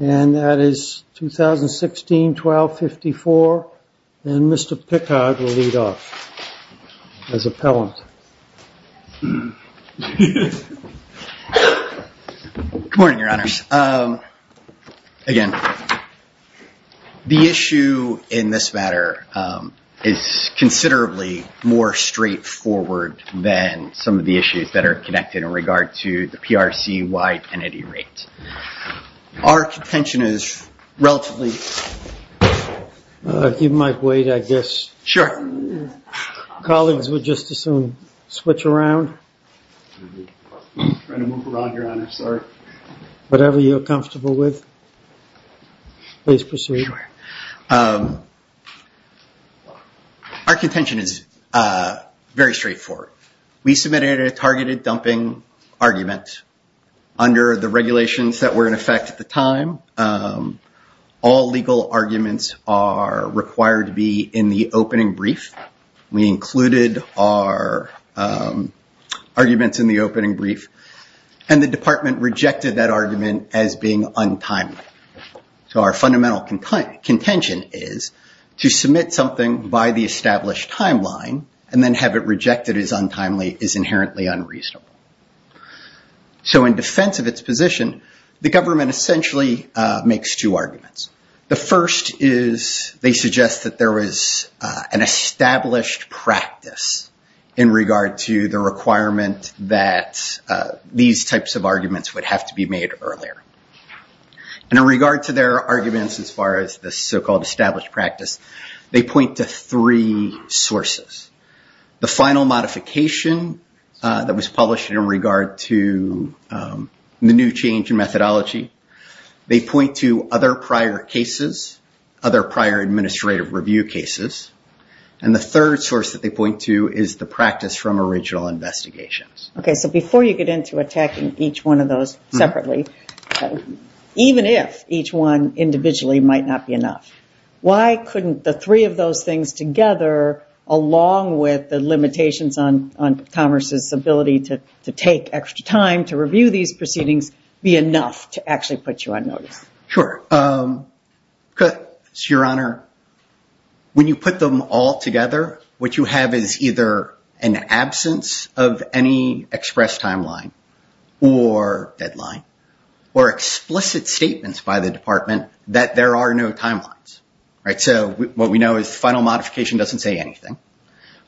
And that is 2016-12-54. And Mr. Pickard will lead off as appellant. Good morning, Your Honors. Again, the issue in this matter is considerably more straightforward than some of the issues that are connected in regard to the PRC-wide Our contention is relatively... You might wait, I guess. Sure. Colleagues would just as soon switch around. Trying to move around, Your Honor. Sorry. Whatever you're comfortable with. Please proceed. Our contention is very straightforward. We submitted a targeted dumping argument under the regulations that were in effect at the time. All legal arguments are required to be in the opening brief. We included our arguments in the opening brief. And the department rejected that argument as being untimely. So our fundamental contention is to submit something by the established timeline and then have it rejected as untimely is inherently unreasonable. So in defense of its position, the government essentially makes two arguments. The first is they suggest that there was an established practice in regard to the requirement that these types of arguments would have to be made earlier. And in regard to their arguments as far as the so-called established practice, they point to three sources. The final modification that was published in regard to the new change in methodology. They point to other prior cases, other prior administrative review cases. And the third source that they point to is the practice from original investigations. Okay, so before you get into attacking each one of those separately, even if each one individually might not be enough, why couldn't the three of those things together along with the limitations on commerce's ability to take extra time to review these proceedings be enough to actually put you on notice? Sure. Your Honor, when you put them all together, what you have is either an absence of any express timeline or deadline or explicit statements by the department that there are no timelines. Right. So what we know is final modification doesn't say anything.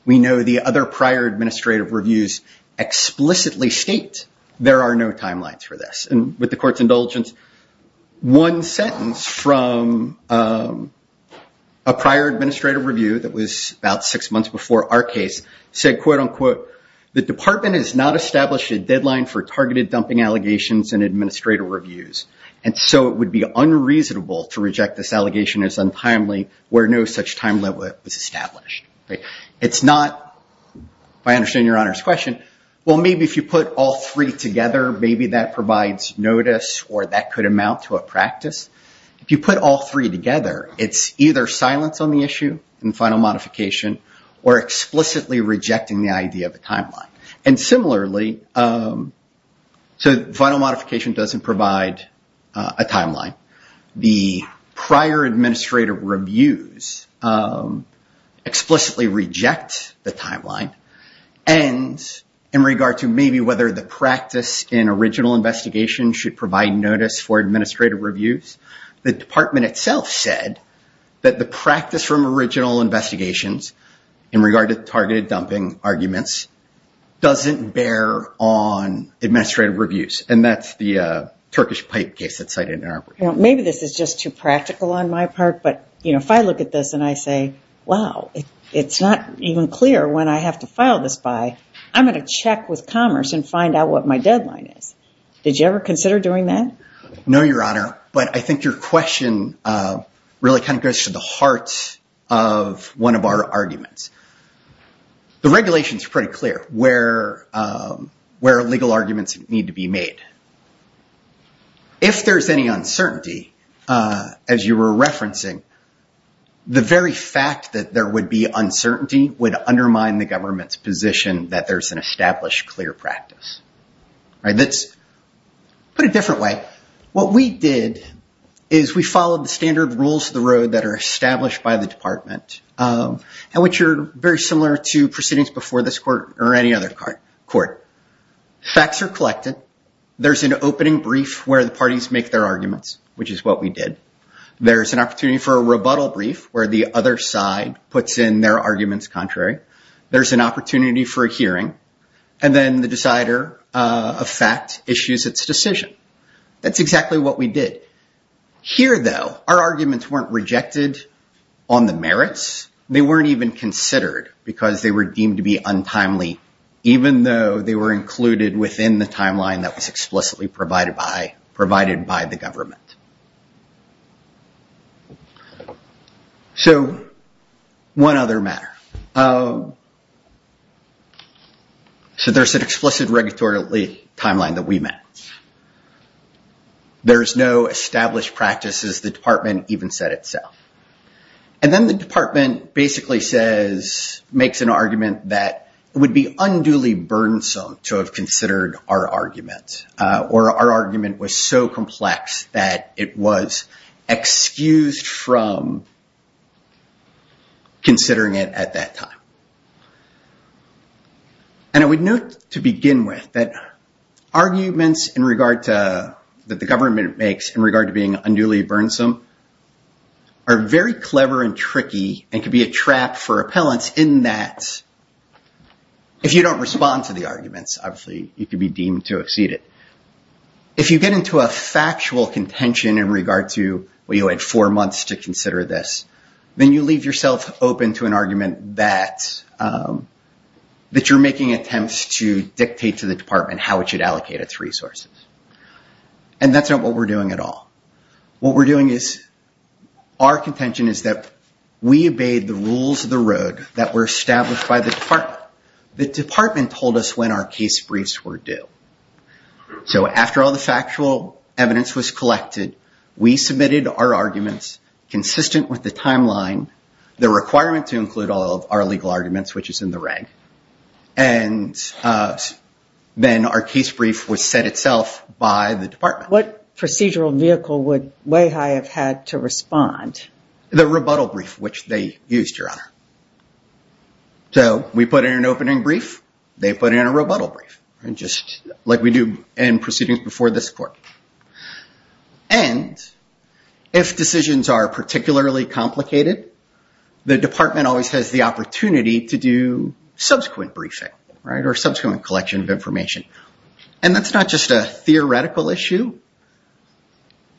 We know the other prior administrative reviews explicitly state there are no timelines for this. And with the court's indulgence, one sentence from a prior administrative review that was about six months before our case said, quote unquote, the department has not established a deadline for targeted dumping allegations and administrative reviews. And so it would be unreasonable to reject this allegation as untimely where no such time limit was established. It's not, if I understand Your Honor's question, well maybe if you put all three together, maybe that provides notice or that could amount to a practice. If you put all three together, it's either silence on the issue in final modification or explicitly rejecting the idea of a timeline. And similarly, so final modification doesn't provide a timeline. The prior administrative reviews explicitly reject the timeline. And in regard to maybe whether the practice in original investigation should provide notice for administrative reviews, the department itself said that the practice from original investigations in regard to targeted dumping arguments doesn't bear on administrative reviews. And that's the Turkish pipe case that's cited in our report. Maybe this is just too practical on my part, but if I look at this and I say, wow, it's not even clear when I have to file this by, I'm going to check with Commerce and find out what my deadline is. Did you ever consider doing that? No, Your Honor, but I think your question really kind of goes to the heart of one of our arguments. The regulations are pretty clear where legal arguments need to be made. If there's any uncertainty, as you were referencing, the very fact that there would be uncertainty would undermine the government's position that there's an established clear practice. Let's put it a different way. What we did is we followed the standard rules of the road that are established by the department, and which are very similar to proceedings before this court or any other court. Facts are collected. There's an opening brief where the parties make their arguments, which is what we did. There's an opportunity for a rebuttal brief where the other side puts in their arguments contrary. There's an opportunity for a hearing, and then the decider of fact issues its decision. That's exactly what we did. Here, though, our arguments weren't rejected on the merits. They weren't even considered because they were deemed to be untimely, even though they were included within the timeline that was explicitly provided by the government. One other matter. There's an explicit regulatory timeline that we met. There's no established practices the department even set itself. Then the department basically makes an argument that would be unduly burdensome to have considered our argument, or our argument was so complex that it was excused from considering it at that time. I would note to begin with that arguments that the government makes in regard to being unduly burdensome are very clever and tricky and could be a trap for appellants in that if you don't respond to the arguments, obviously, you could be deemed to exceed it. If you get into a factual contention in regard to, well, you had four months to consider this, then you leave yourself open to an argument that you're making attempts to dictate to the department how it should allocate its resources. That's not what we're doing at all. What we're doing is our contention is that we obeyed the rules of the road that were established by the department. But the department told us when our case briefs were due. After all the factual evidence was collected, we submitted our arguments consistent with the timeline, the requirement to include all of our legal arguments, which is in the reg. Then our case brief was set itself by the department. What procedural vehicle would WAHI have had to respond? The rebuttal brief, which they used, Your Honor. So we put in an opening brief. They put in a rebuttal brief, just like we do in proceedings before this court. And if decisions are particularly complicated, the department always has the opportunity to do subsequent briefing or subsequent collection of information. And that's not just a theoretical issue.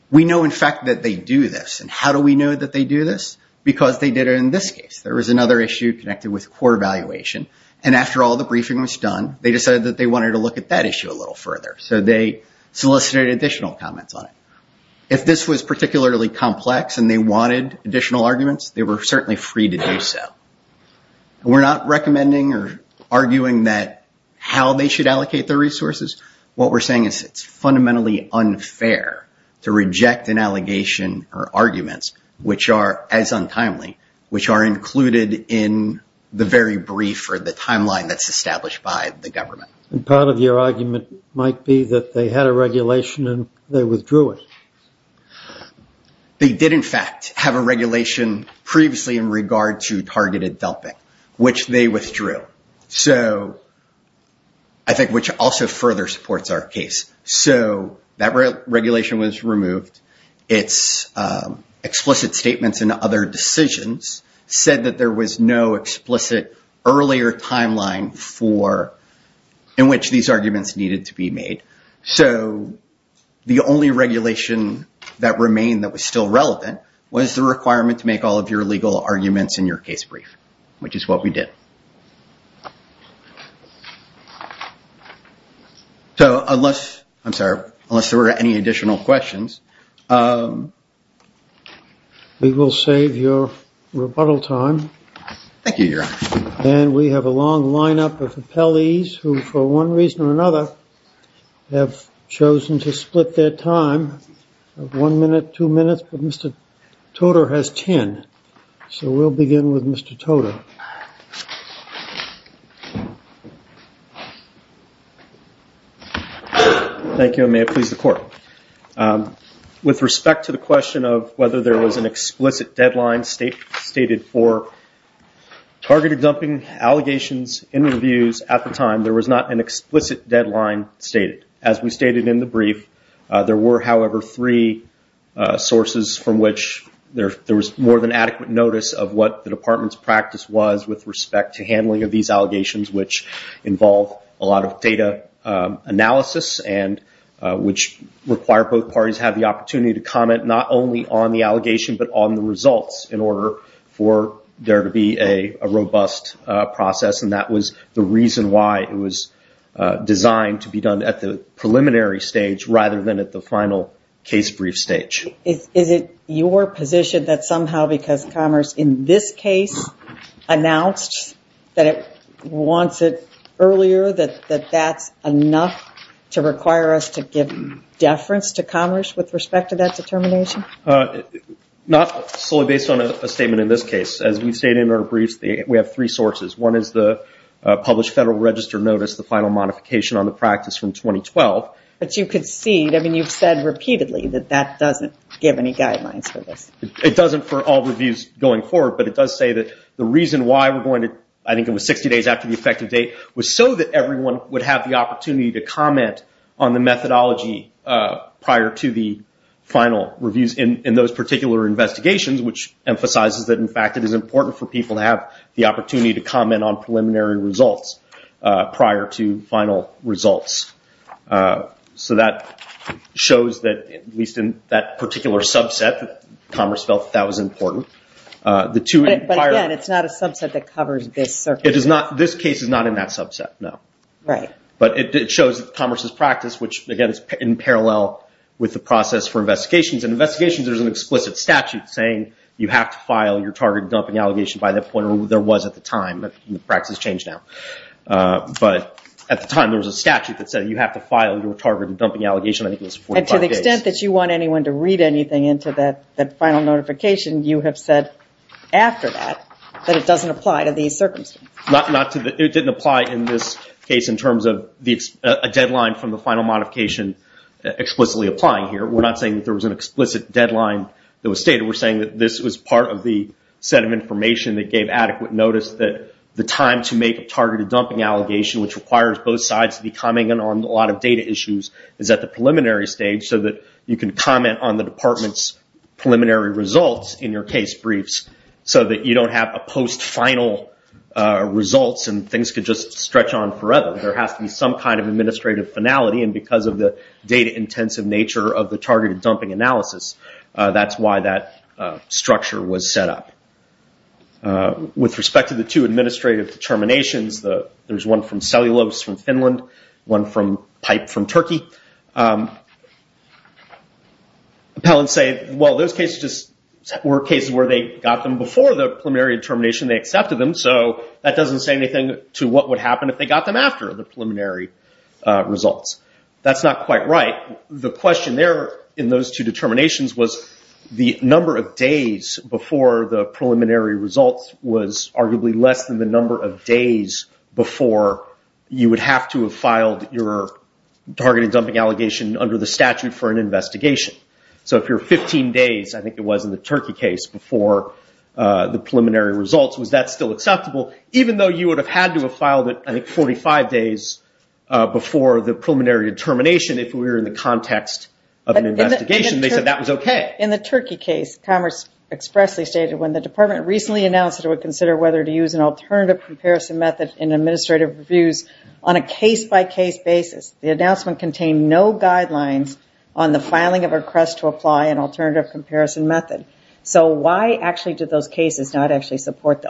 We know, in fact, that they do this. And how do we know that they do this? Because they did it in this case. There was another issue connected with court evaluation. And after all the briefing was done, they decided that they wanted to look at that issue a little further. So they solicited additional comments on it. If this was particularly complex and they wanted additional arguments, they were certainly free to do so. We're not recommending or arguing that how they should allocate their resources. What we're saying is it's fundamentally unfair to reject an allegation or arguments, which are as untimely, which are included in the very brief or the timeline that's established by the government. And part of your argument might be that they had a regulation and they withdrew it. They did, in fact, have a regulation previously in regard to targeted dumping, which they withdrew. I think which also further supports our case. So that regulation was removed. Its explicit statements and other decisions said that there was no explicit earlier timeline in which these arguments needed to be made. So the only regulation that remained that was still relevant was the requirement to make all of your legal arguments in your case brief, which is what we did. So unless, I'm sorry, unless there were any additional questions. We will save your rebuttal time. Thank you, Your Honor. And we have a long lineup of appellees who, for one reason or another, have chosen to split their time of one minute, two minutes. Mr. Toter has ten. So we'll begin with Mr. Toter. Thank you, and may it please the Court. With respect to the question of whether there was an explicit deadline stated for targeted dumping allegations in reviews at the time, there was not an explicit deadline stated. As we stated in the brief, there were, however, three sources from which there was more than adequate notice of what the Department's practice was with respect to handling of these allegations, which involve a lot of data analysis and which require both parties have the opportunity to comment not only on the allegation but on the results in order for there to be a robust process. And that was the reason why it was designed to be done at the preliminary stage rather than at the final case brief stage. Is it your position that somehow because Commerce in this case announced that it wants it earlier, that that's enough to require us to give deference to Commerce with respect to that determination? Not solely based on a statement in this case. As we stated in our briefs, we have three sources. One is the published Federal Register notice, the final modification on the practice from 2012. But you concede, I mean you've said repeatedly that that doesn't give any guidelines for this. It doesn't for all reviews going forward, but it does say that the reason why we're going to, I think it was 60 days after the effective date, was so that everyone would have the opportunity to comment on the methodology prior to the final reviews in those particular investigations, which emphasizes that, in fact, it is important for people to have the opportunity to comment on preliminary results prior to final results. So that shows that, at least in that particular subset, Commerce felt that was important. But again, it's not a subset that covers this circuit. This case is not in that subset, no. Right. But it shows that Commerce's practice, which, again, is in parallel with the process for investigations. In investigations, there's an explicit statute saying you have to file your target dumping allegation by that point, or there was at the time. The practice has changed now. But at the time, there was a statute that said you have to file your target dumping allegation, I think it was 45 days. And to the extent that you want anyone to read anything into that final notification, you have said after that that it doesn't apply to these circumstances. It didn't apply in this case in terms of a deadline from the final modification explicitly applying here. We're not saying that there was an explicit deadline that was stated. We're saying that this was part of the set of information that gave adequate notice that the time to make a targeted dumping allegation, which requires both sides to be commenting on a lot of data issues, is at the preliminary stage so that you can comment on the department's preliminary results in your case briefs, so that you don't have a post-final results and things could just stretch on forever. There has to be some kind of administrative finality. And because of the data-intensive nature of the targeted dumping analysis, that's why that structure was set up. With respect to the two administrative determinations, there's one from Cellulose from Finland, one from Pipe from Turkey. Appellants say, well, those cases were cases where they got them before the preliminary determination. They accepted them, so that doesn't say anything to what would happen if they got them after the preliminary results. That's not quite right. The question there in those two determinations was the number of days before the preliminary results was arguably less than the number of days before you would have to have filed your targeted dumping allegation under the statute for an investigation. So if you're 15 days, I think it was in the Turkey case, before the preliminary results, was that still acceptable? Even though you would have had to have filed it, I think, 45 days before the preliminary determination, if we were in the context of an investigation, they said that was okay. In the Turkey case, Commerce expressly stated, when the department recently announced it would consider whether to use an alternative comparison method in administrative reviews, on a case-by-case basis, the announcement contained no guidelines on the filing of a request to apply an alternative comparison method. So why actually did those cases not actually support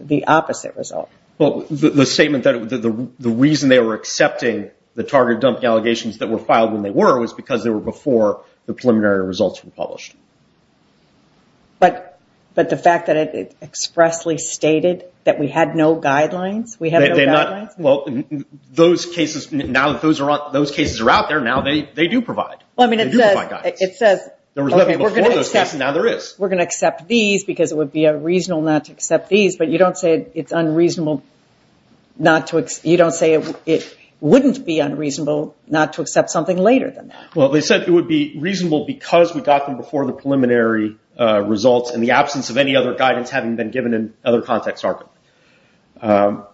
the opposite result? The statement that the reason they were accepting the targeted dumping allegations that were filed when they were was because they were before the preliminary results were published. But the fact that it expressly stated that we had no guidelines? Those cases are out there now. They do provide guidelines. There was nothing before those cases, and now there is. We're going to accept these because it would be reasonable not to accept these, but you don't say it wouldn't be unreasonable not to accept something later than that. Well, they said it would be reasonable because we got them before the preliminary results in the absence of any other guidance having been given in other contexts.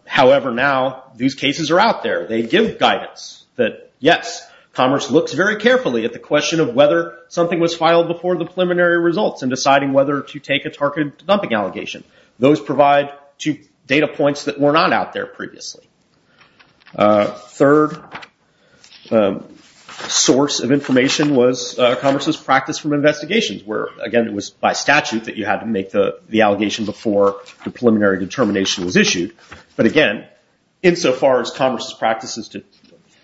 However, now, these cases are out there. They give guidance that, yes, Commerce looks very carefully at the question of whether something was filed before the preliminary results in deciding whether to take a targeted dumping allegation. Those provide two data points that were not out there previously. Third source of information was Commerce's practice from investigations, where, again, it was by statute that you had to make the allegation before the preliminary determination was issued. But, again, insofar as Commerce's practice is to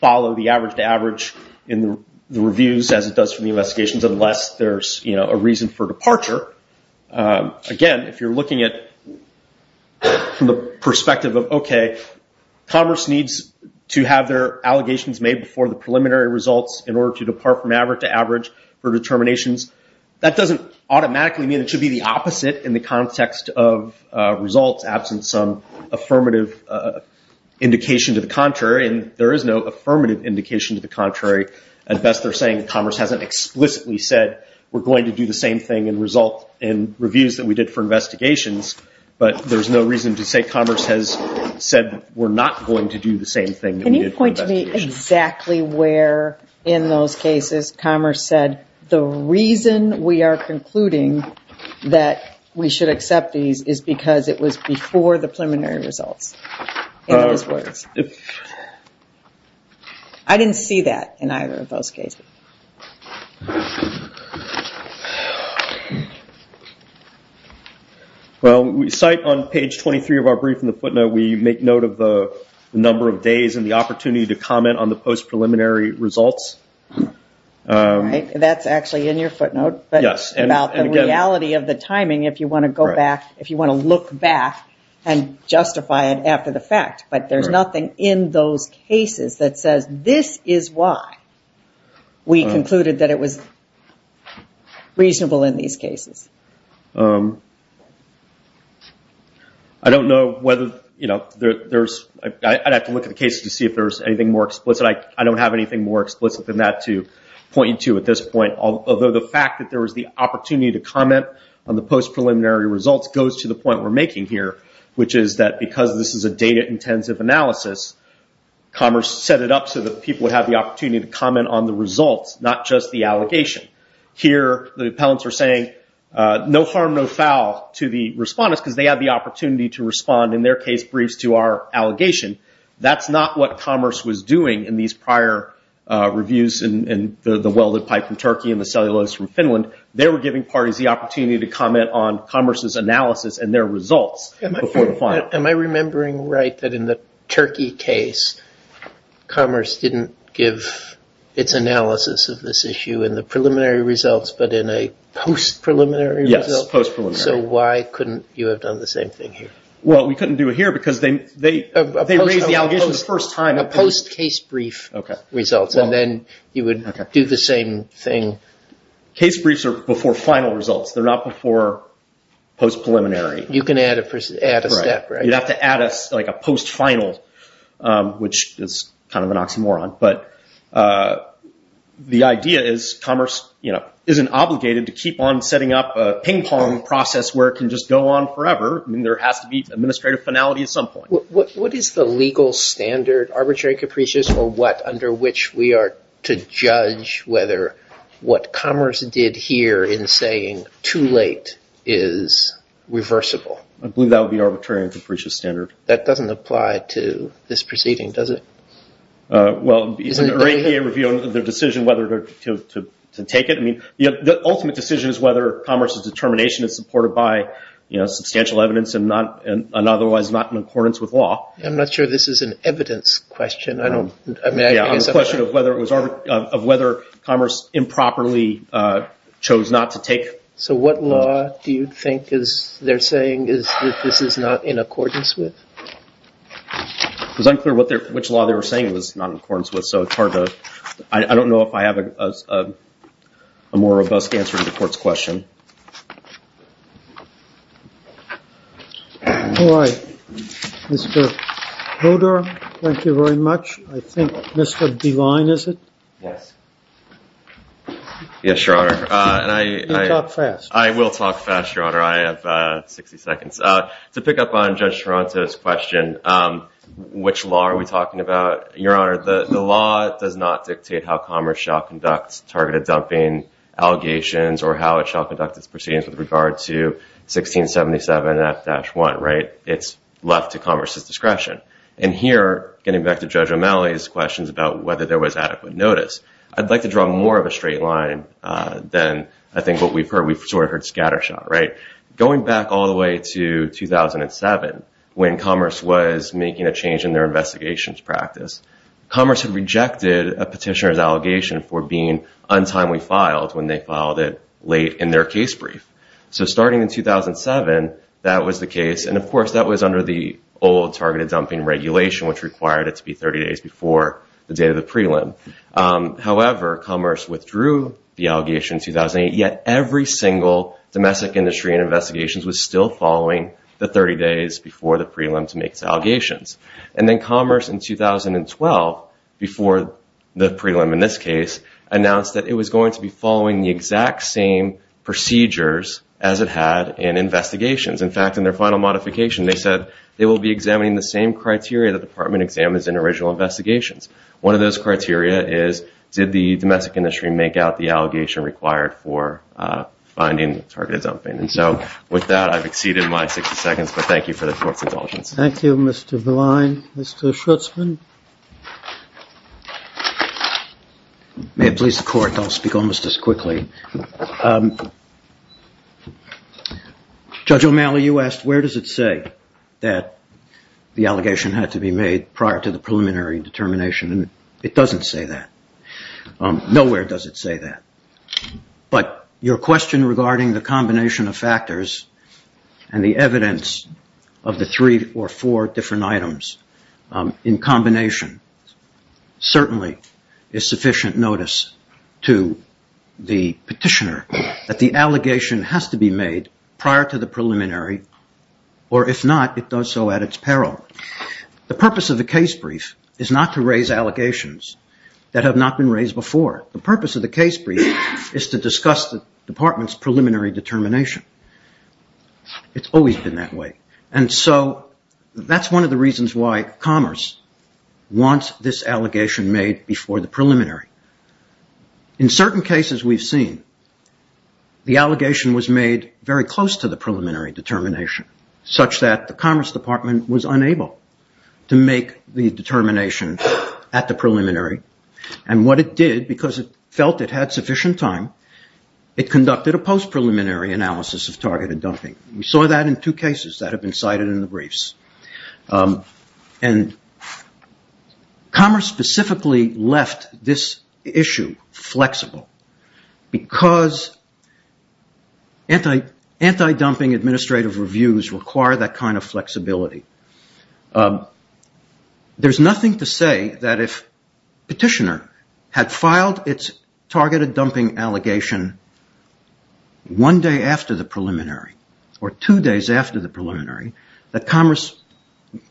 follow the average-to-average in the reviews, as it does for the investigations, unless there's a reason for departure, again, if you're looking at it from the perspective of, okay, Commerce needs to have their allegations made before the preliminary results in order to depart from average-to-average for determinations, that doesn't automatically mean it should be the opposite in the context of results absent some affirmative indication to the contrary, and there is no affirmative indication to the contrary. At best, they're saying Commerce hasn't explicitly said we're going to do the same thing in reviews that we did for investigations, but there's no reason to say Commerce has said we're not going to do the same thing that we did for investigations. Can you point to me exactly where in those cases Commerce said, the reason we are concluding that we should accept these is because it was before the preliminary results? I didn't see that in either of those cases. Well, we cite on page 23 of our brief in the footnote, we make note of the number of days and the opportunity to comment on the post-preliminary results. That's actually in your footnote, but it's about the reality of the timing if you want to go back, if you want to look back and justify it after the fact. But there's nothing in those cases that says this is why we concluded that it was reasonable in these cases. I don't know whether there's, I'd have to look at the cases to see if there's anything more explicit. I don't have anything more explicit than that to point you to at this point, although the fact that there was the opportunity to comment on the post-preliminary results goes to the point we're making here, which is that because this is a data-intensive analysis, Commerce set it up so that people would have the opportunity to comment on the results, not just the allegation. Here, the appellants are saying no harm, no foul to the respondents because they have the opportunity to respond in their case briefs to our allegation. That's not what Commerce was doing in these prior reviews in the welded pipe from Turkey and the cellulose from Finland. They were giving parties the opportunity to comment on Commerce's analysis and their results before the final. Am I remembering right that in the Turkey case, Commerce didn't give its analysis of this issue in the preliminary results, but in a post-preliminary result? Yes, post-preliminary. So why couldn't you have done the same thing here? Well, we couldn't do it here because they raised the allegation the first time. A post-case brief results, and then you would do the same thing. Case briefs are before final results. They're not before post-preliminary. You can add a step, right? You'd have to add a post-final, which is kind of an oxymoron. The idea is Commerce isn't obligated to keep on setting up a ping-pong process where it can just go on forever. There has to be an administrative finality at some point. What is the legal standard, arbitrary and capricious, or what under which we are to judge whether what Commerce did here in saying too late is reversible? I believe that would be arbitrary and capricious standard. That doesn't apply to this proceeding, does it? Well, it's a review of the decision whether to take it. The ultimate decision is whether Commerce's determination is supported by substantial evidence and otherwise not in accordance with law. I'm not sure this is an evidence question. I'm asking a question of whether Commerce improperly chose not to take. So what law do you think they're saying is that this is not in accordance with? It was unclear which law they were saying it was not in accordance with. I don't know if I have a more robust answer to the court's question. All right. Mr. Hodor, thank you very much. I think Mr. Devine is it? Yes. Yes, Your Honor. You talk fast. I will talk fast, Your Honor. I have 60 seconds. To pick up on Judge Taranto's question, which law are we talking about? Your Honor, the law does not dictate how Commerce shall conduct targeted dumping allegations or how it shall conduct its proceedings with regard to 1677 F-1, right? It's left to Commerce's discretion. And here, getting back to Judge O'Malley's questions about whether there was adequate notice, I'd like to draw more of a straight line than I think what we've heard. We've sort of heard scattershot, right? Going back all the way to 2007, when Commerce was making a change in their investigations practice, Commerce had rejected a petitioner's allegation for being untimely filed when they filed it late in their case brief. So starting in 2007, that was the case. And, of course, that was under the old targeted dumping regulation, which required it to be 30 days before the date of the prelim. However, Commerce withdrew the allegation in 2008. Yet every single domestic industry in investigations was still following the 30 days before the prelim to make allegations. And then Commerce in 2012, before the prelim in this case, announced that it was going to be following the exact same procedures as it had in investigations. In fact, in their final modification, they said they will be examining the same criteria the department examines in original investigations. One of those criteria is, did the domestic industry make out the allegation required for finding targeted dumping? And so with that, I've exceeded my 60 seconds, but thank you for the court's indulgence. Thank you, Mr. Veline. Mr. Schultzman. May it please the court, I'll speak almost as quickly. Judge O'Malley, you asked, where does it say that the allegation had to be made prior to the preliminary determination? It doesn't say that. Nowhere does it say that. But your question regarding the combination of factors and the evidence of the three or four different items in combination certainly is sufficient notice to the petitioner that the allegation has to be made prior to the preliminary, or if not, it does so at its peril. The purpose of the case brief is not to raise allegations that have not been raised before. The purpose of the case brief is to discuss the department's preliminary determination. It's always been that way. And so that's one of the reasons why Commerce wants this allegation made before the preliminary. In certain cases we've seen, the allegation was made very close to the preliminary determination, such that the Commerce Department was unable to make the determination at the preliminary. And what it did, because it felt it had sufficient time, it conducted a post-preliminary analysis of targeted dumping. We saw that in two cases that have been cited in the briefs. And Commerce specifically left this issue flexible because anti-dumping administrative reviews require that kind of flexibility. There's nothing to say that if the petitioner had filed its targeted dumping allegation one day after the preliminary, or two days after the preliminary, that Commerce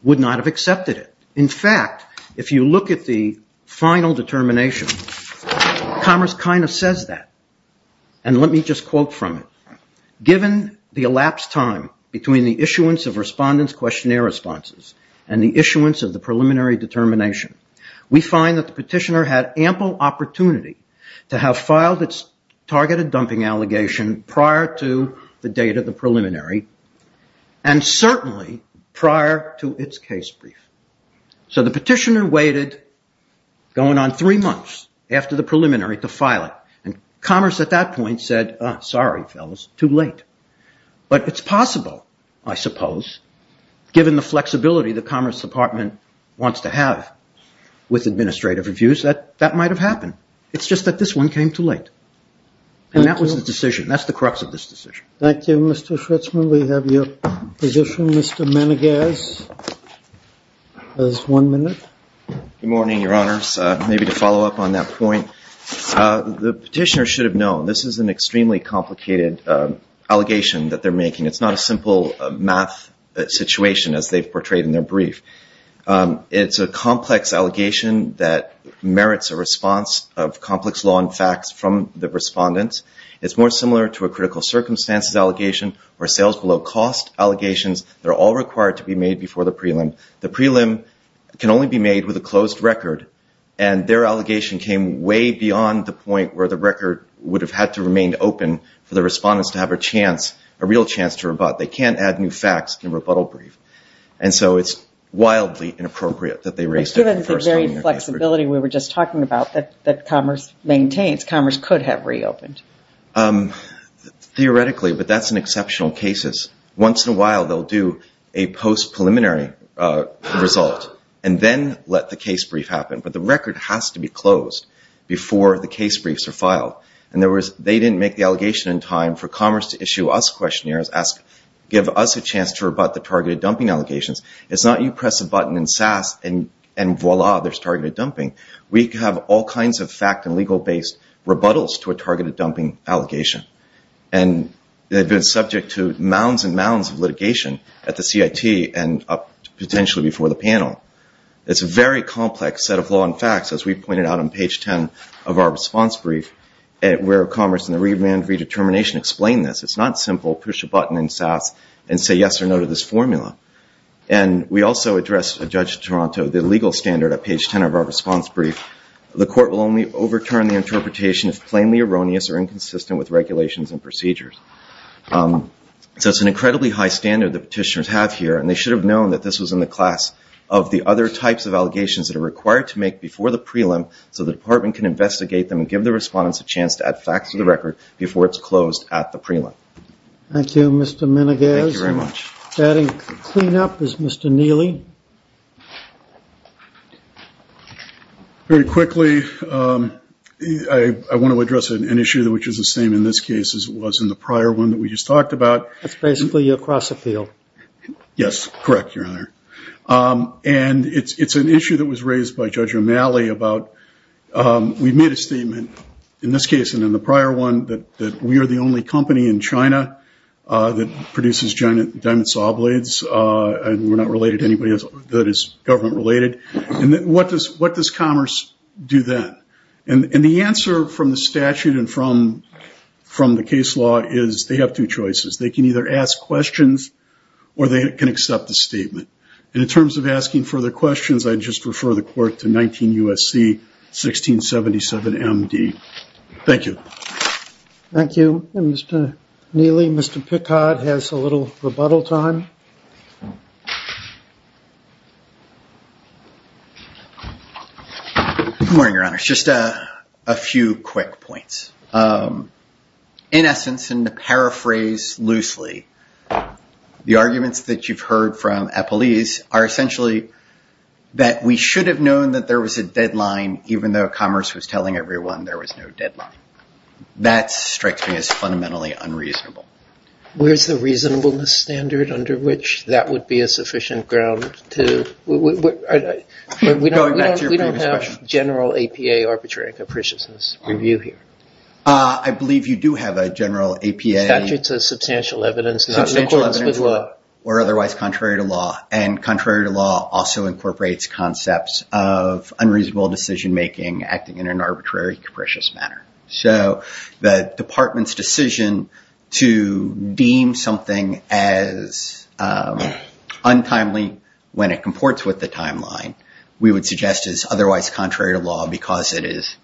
would not have accepted it. In fact, if you look at the final determination, Commerce kind of says that. And let me just quote from it. Given the elapsed time between the issuance of respondents' questionnaire responses and the issuance of the preliminary determination, we find that the petitioner had ample opportunity to have filed its targeted dumping allegation prior to the date of the preliminary, and certainly prior to its case brief. So the petitioner waited going on three months after the preliminary to file it. And Commerce at that point said, sorry, fellas, too late. But it's possible, I suppose, given the flexibility that Commerce Department wants to have with administrative reviews, that that might have happened. It's just that this one came too late. And that was the decision. That's the crux of this decision. Thank you, Mr. Schritzman. We have your position. Mr. Menegas has one minute. Good morning, Your Honors. Maybe to follow up on that point, the petitioner should have known this is an extremely complicated allegation that they're making. It's not a simple math situation as they've portrayed in their brief. It's a complex allegation that merits a response of complex law and facts from the respondents. It's more similar to a critical circumstances allegation or sales below cost allegations. They're all required to be made before the prelim. The prelim can only be made with a closed record. And their allegation came way beyond the point where the record would have had to remain open for the respondents to have a chance, a real chance to rebut. They can't add new facts in rebuttal brief. And so it's wildly inappropriate that they raised it. Given the very flexibility we were just talking about that Commerce maintains, Commerce could have reopened. Theoretically, but that's in exceptional cases. Once in a while, they'll do a post-preliminary result and then let the case brief happen. But the record has to be closed before the case briefs are filed. In other words, they didn't make the allegation in time for Commerce to issue us questionnaires, give us a chance to rebut the targeted dumping allegations. It's not you press a button in SAS and voila, there's targeted dumping. We have all kinds of fact and legal-based rebuttals to a targeted dumping allegation. And they've been subject to mounds and mounds of litigation at the CIT and potentially before the panel. It's a very complex set of law and facts, as we pointed out on page 10 of our response brief, where Commerce and the remand redetermination explain this. It's not simple push a button in SAS and say yes or no to this formula. And we also addressed, Judge Toronto, the legal standard at page 10 of our response brief. The court will only overturn the interpretation if plainly erroneous or inconsistent with regulations and procedures. So it's an incredibly high standard that petitioners have here, and they should have known that this was in the class of the other types of allegations that are required to make before the prelim, so the department can investigate them and give the respondents a chance to add facts to the record before it's closed at the prelim. Thank you, Mr. Menegas. Thank you very much. Adding cleanup is Mr. Neely. Very quickly, I want to address an issue which is the same in this case as it was in the prior one that we just talked about. That's basically your cross-appeal. Yes, correct, Your Honor. And it's an issue that was raised by Judge O'Malley about we made a statement in this case and in the prior one that we are the only company in China that produces diamond saw blades, and we're not related to anybody that is government related. And what does commerce do then? And the answer from the statute and from the case law is they have two choices. They can either ask questions or they can accept the statement. And in terms of asking further questions, I'd just refer the court to 19 U.S.C. 1677 M.D. Thank you. Thank you. And Mr. Neely, Mr. Pickard has a little rebuttal time. Good morning, Your Honor. Just a few quick points. In essence, and to paraphrase loosely, the arguments that you've heard from Appleese are essentially that we should have known that there was a deadline even though commerce was telling everyone there was no deadline. That strikes me as fundamentally unreasonable. Where's the reasonableness standard under which that would be a sufficient ground to – Going back to your previous question. We don't have general APA arbitrary capriciousness review here. I believe you do have a general APA – The statute says substantial evidence not in accordance with law. Or otherwise contrary to law. And contrary to law also incorporates concepts of unreasonable decision making acting in an arbitrary capricious manner. So the department's decision to deem something as untimely when it comports with the timeline, we would suggest is otherwise contrary to law because it is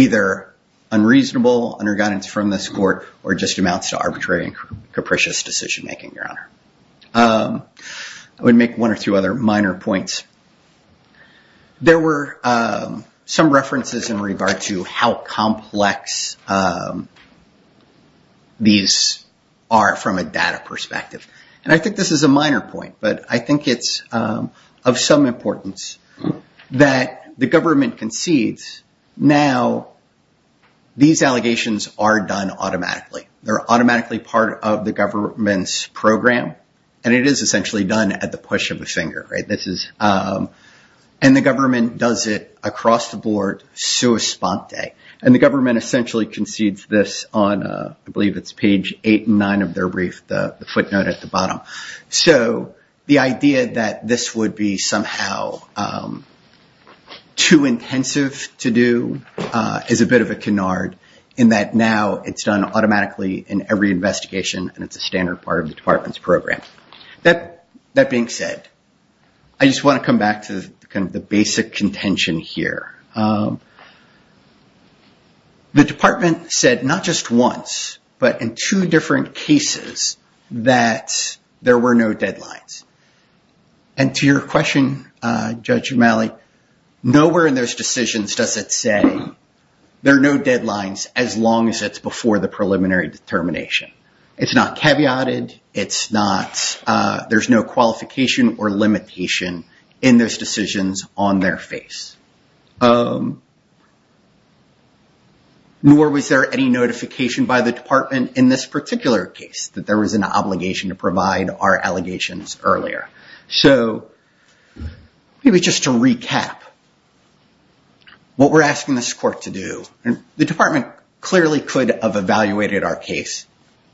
either unreasonable under guidance from this court or just amounts to arbitrary and capricious decision making, Your Honor. I would make one or two other minor points. There were some references in regard to how complex these are from a data perspective. And I think this is a minor point, but I think it's of some importance that the government concedes now these allegations are done automatically. They're automatically part of the government's program. And it is essentially done at the push of a finger. And the government does it across the board, sua sponte. And the government essentially concedes this on, I believe it's page eight and nine of their brief, the footnote at the bottom. So the idea that this would be somehow too intensive to do is a bit of a canard in that now it's done automatically in every investigation. And it's a standard part of the department's program. That being said, I just want to come back to the basic contention here. The department said not just once, but in two different cases that there were no deadlines. And to your question, Judge O'Malley, nowhere in those decisions does it say there are no deadlines as long as it's before the preliminary determination. It's not caveated. There's no qualification or limitation in those decisions on their face. Nor was there any notification by the department in this particular case that there was an obligation to provide our allegations earlier. So maybe just to recap, what we're asking this court to do, the department clearly could have evaluated our case,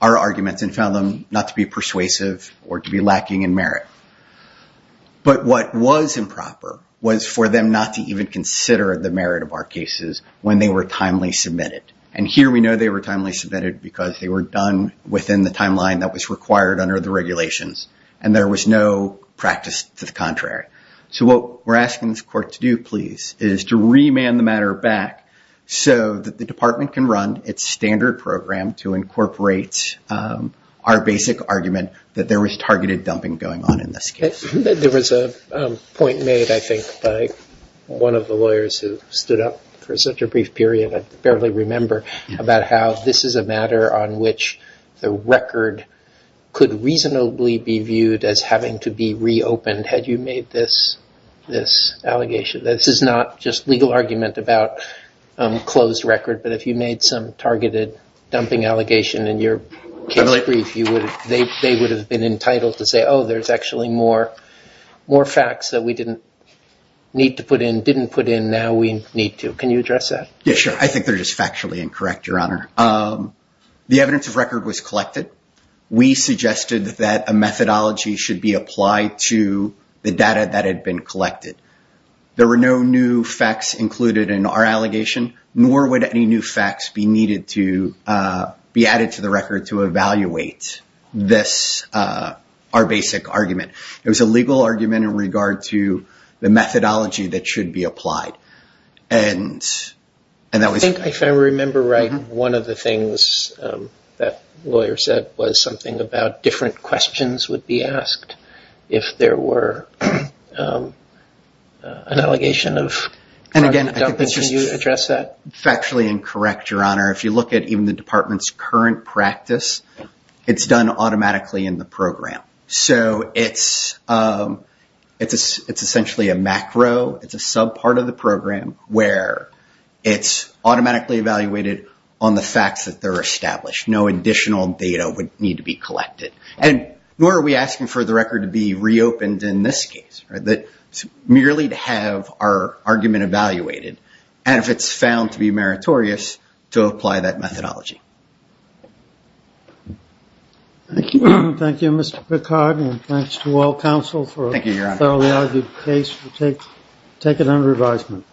our arguments, and found them not to be persuasive or to be lacking in merit. But what was improper was for them not to even consider the merit of our cases when they were timely submitted. And here we know they were timely submitted because they were done within the timeline that was required under the regulations. And there was no practice to the contrary. So what we're asking this court to do, please, is to remand the matter back so that the department can run its standard program to incorporate our basic argument that there was targeted dumping going on in this case. There was a point made, I think, by one of the lawyers who stood up for such a brief period, I barely remember, about how this is a matter on which the record could reasonably be viewed as having to be reopened had you made this allegation. This is not just legal argument about closed record, but if you made some targeted dumping allegation in your case brief, they would have been entitled to say, oh, there's actually more facts that we didn't need to put in, didn't put in, now we need to. Can you address that? Yeah, sure. I think they're just factually incorrect, Your Honor. The evidence of record was collected. We suggested that a methodology should be applied to the data that had been collected. There were no new facts included in our allegation, nor would any new facts be needed to be added to the record to evaluate this, our basic argument. It was a legal argument in regard to the methodology that should be applied. I think if I remember right, one of the things that the lawyer said was something about different questions would be asked if there were an allegation of targeted dumping. Can you address that? Factually incorrect, Your Honor. If you look at even the department's current practice, it's done automatically in the program. So it's essentially a macro. It's a subpart of the program where it's automatically evaluated on the facts that are established. No additional data would need to be collected. Nor are we asking for the record to be reopened in this case. It's merely to have our argument evaluated, and if it's found to be meritorious, to apply that methodology. Thank you, Mr. Picard, and thanks to all counsel for a thoroughly argued case. Take it under advisement.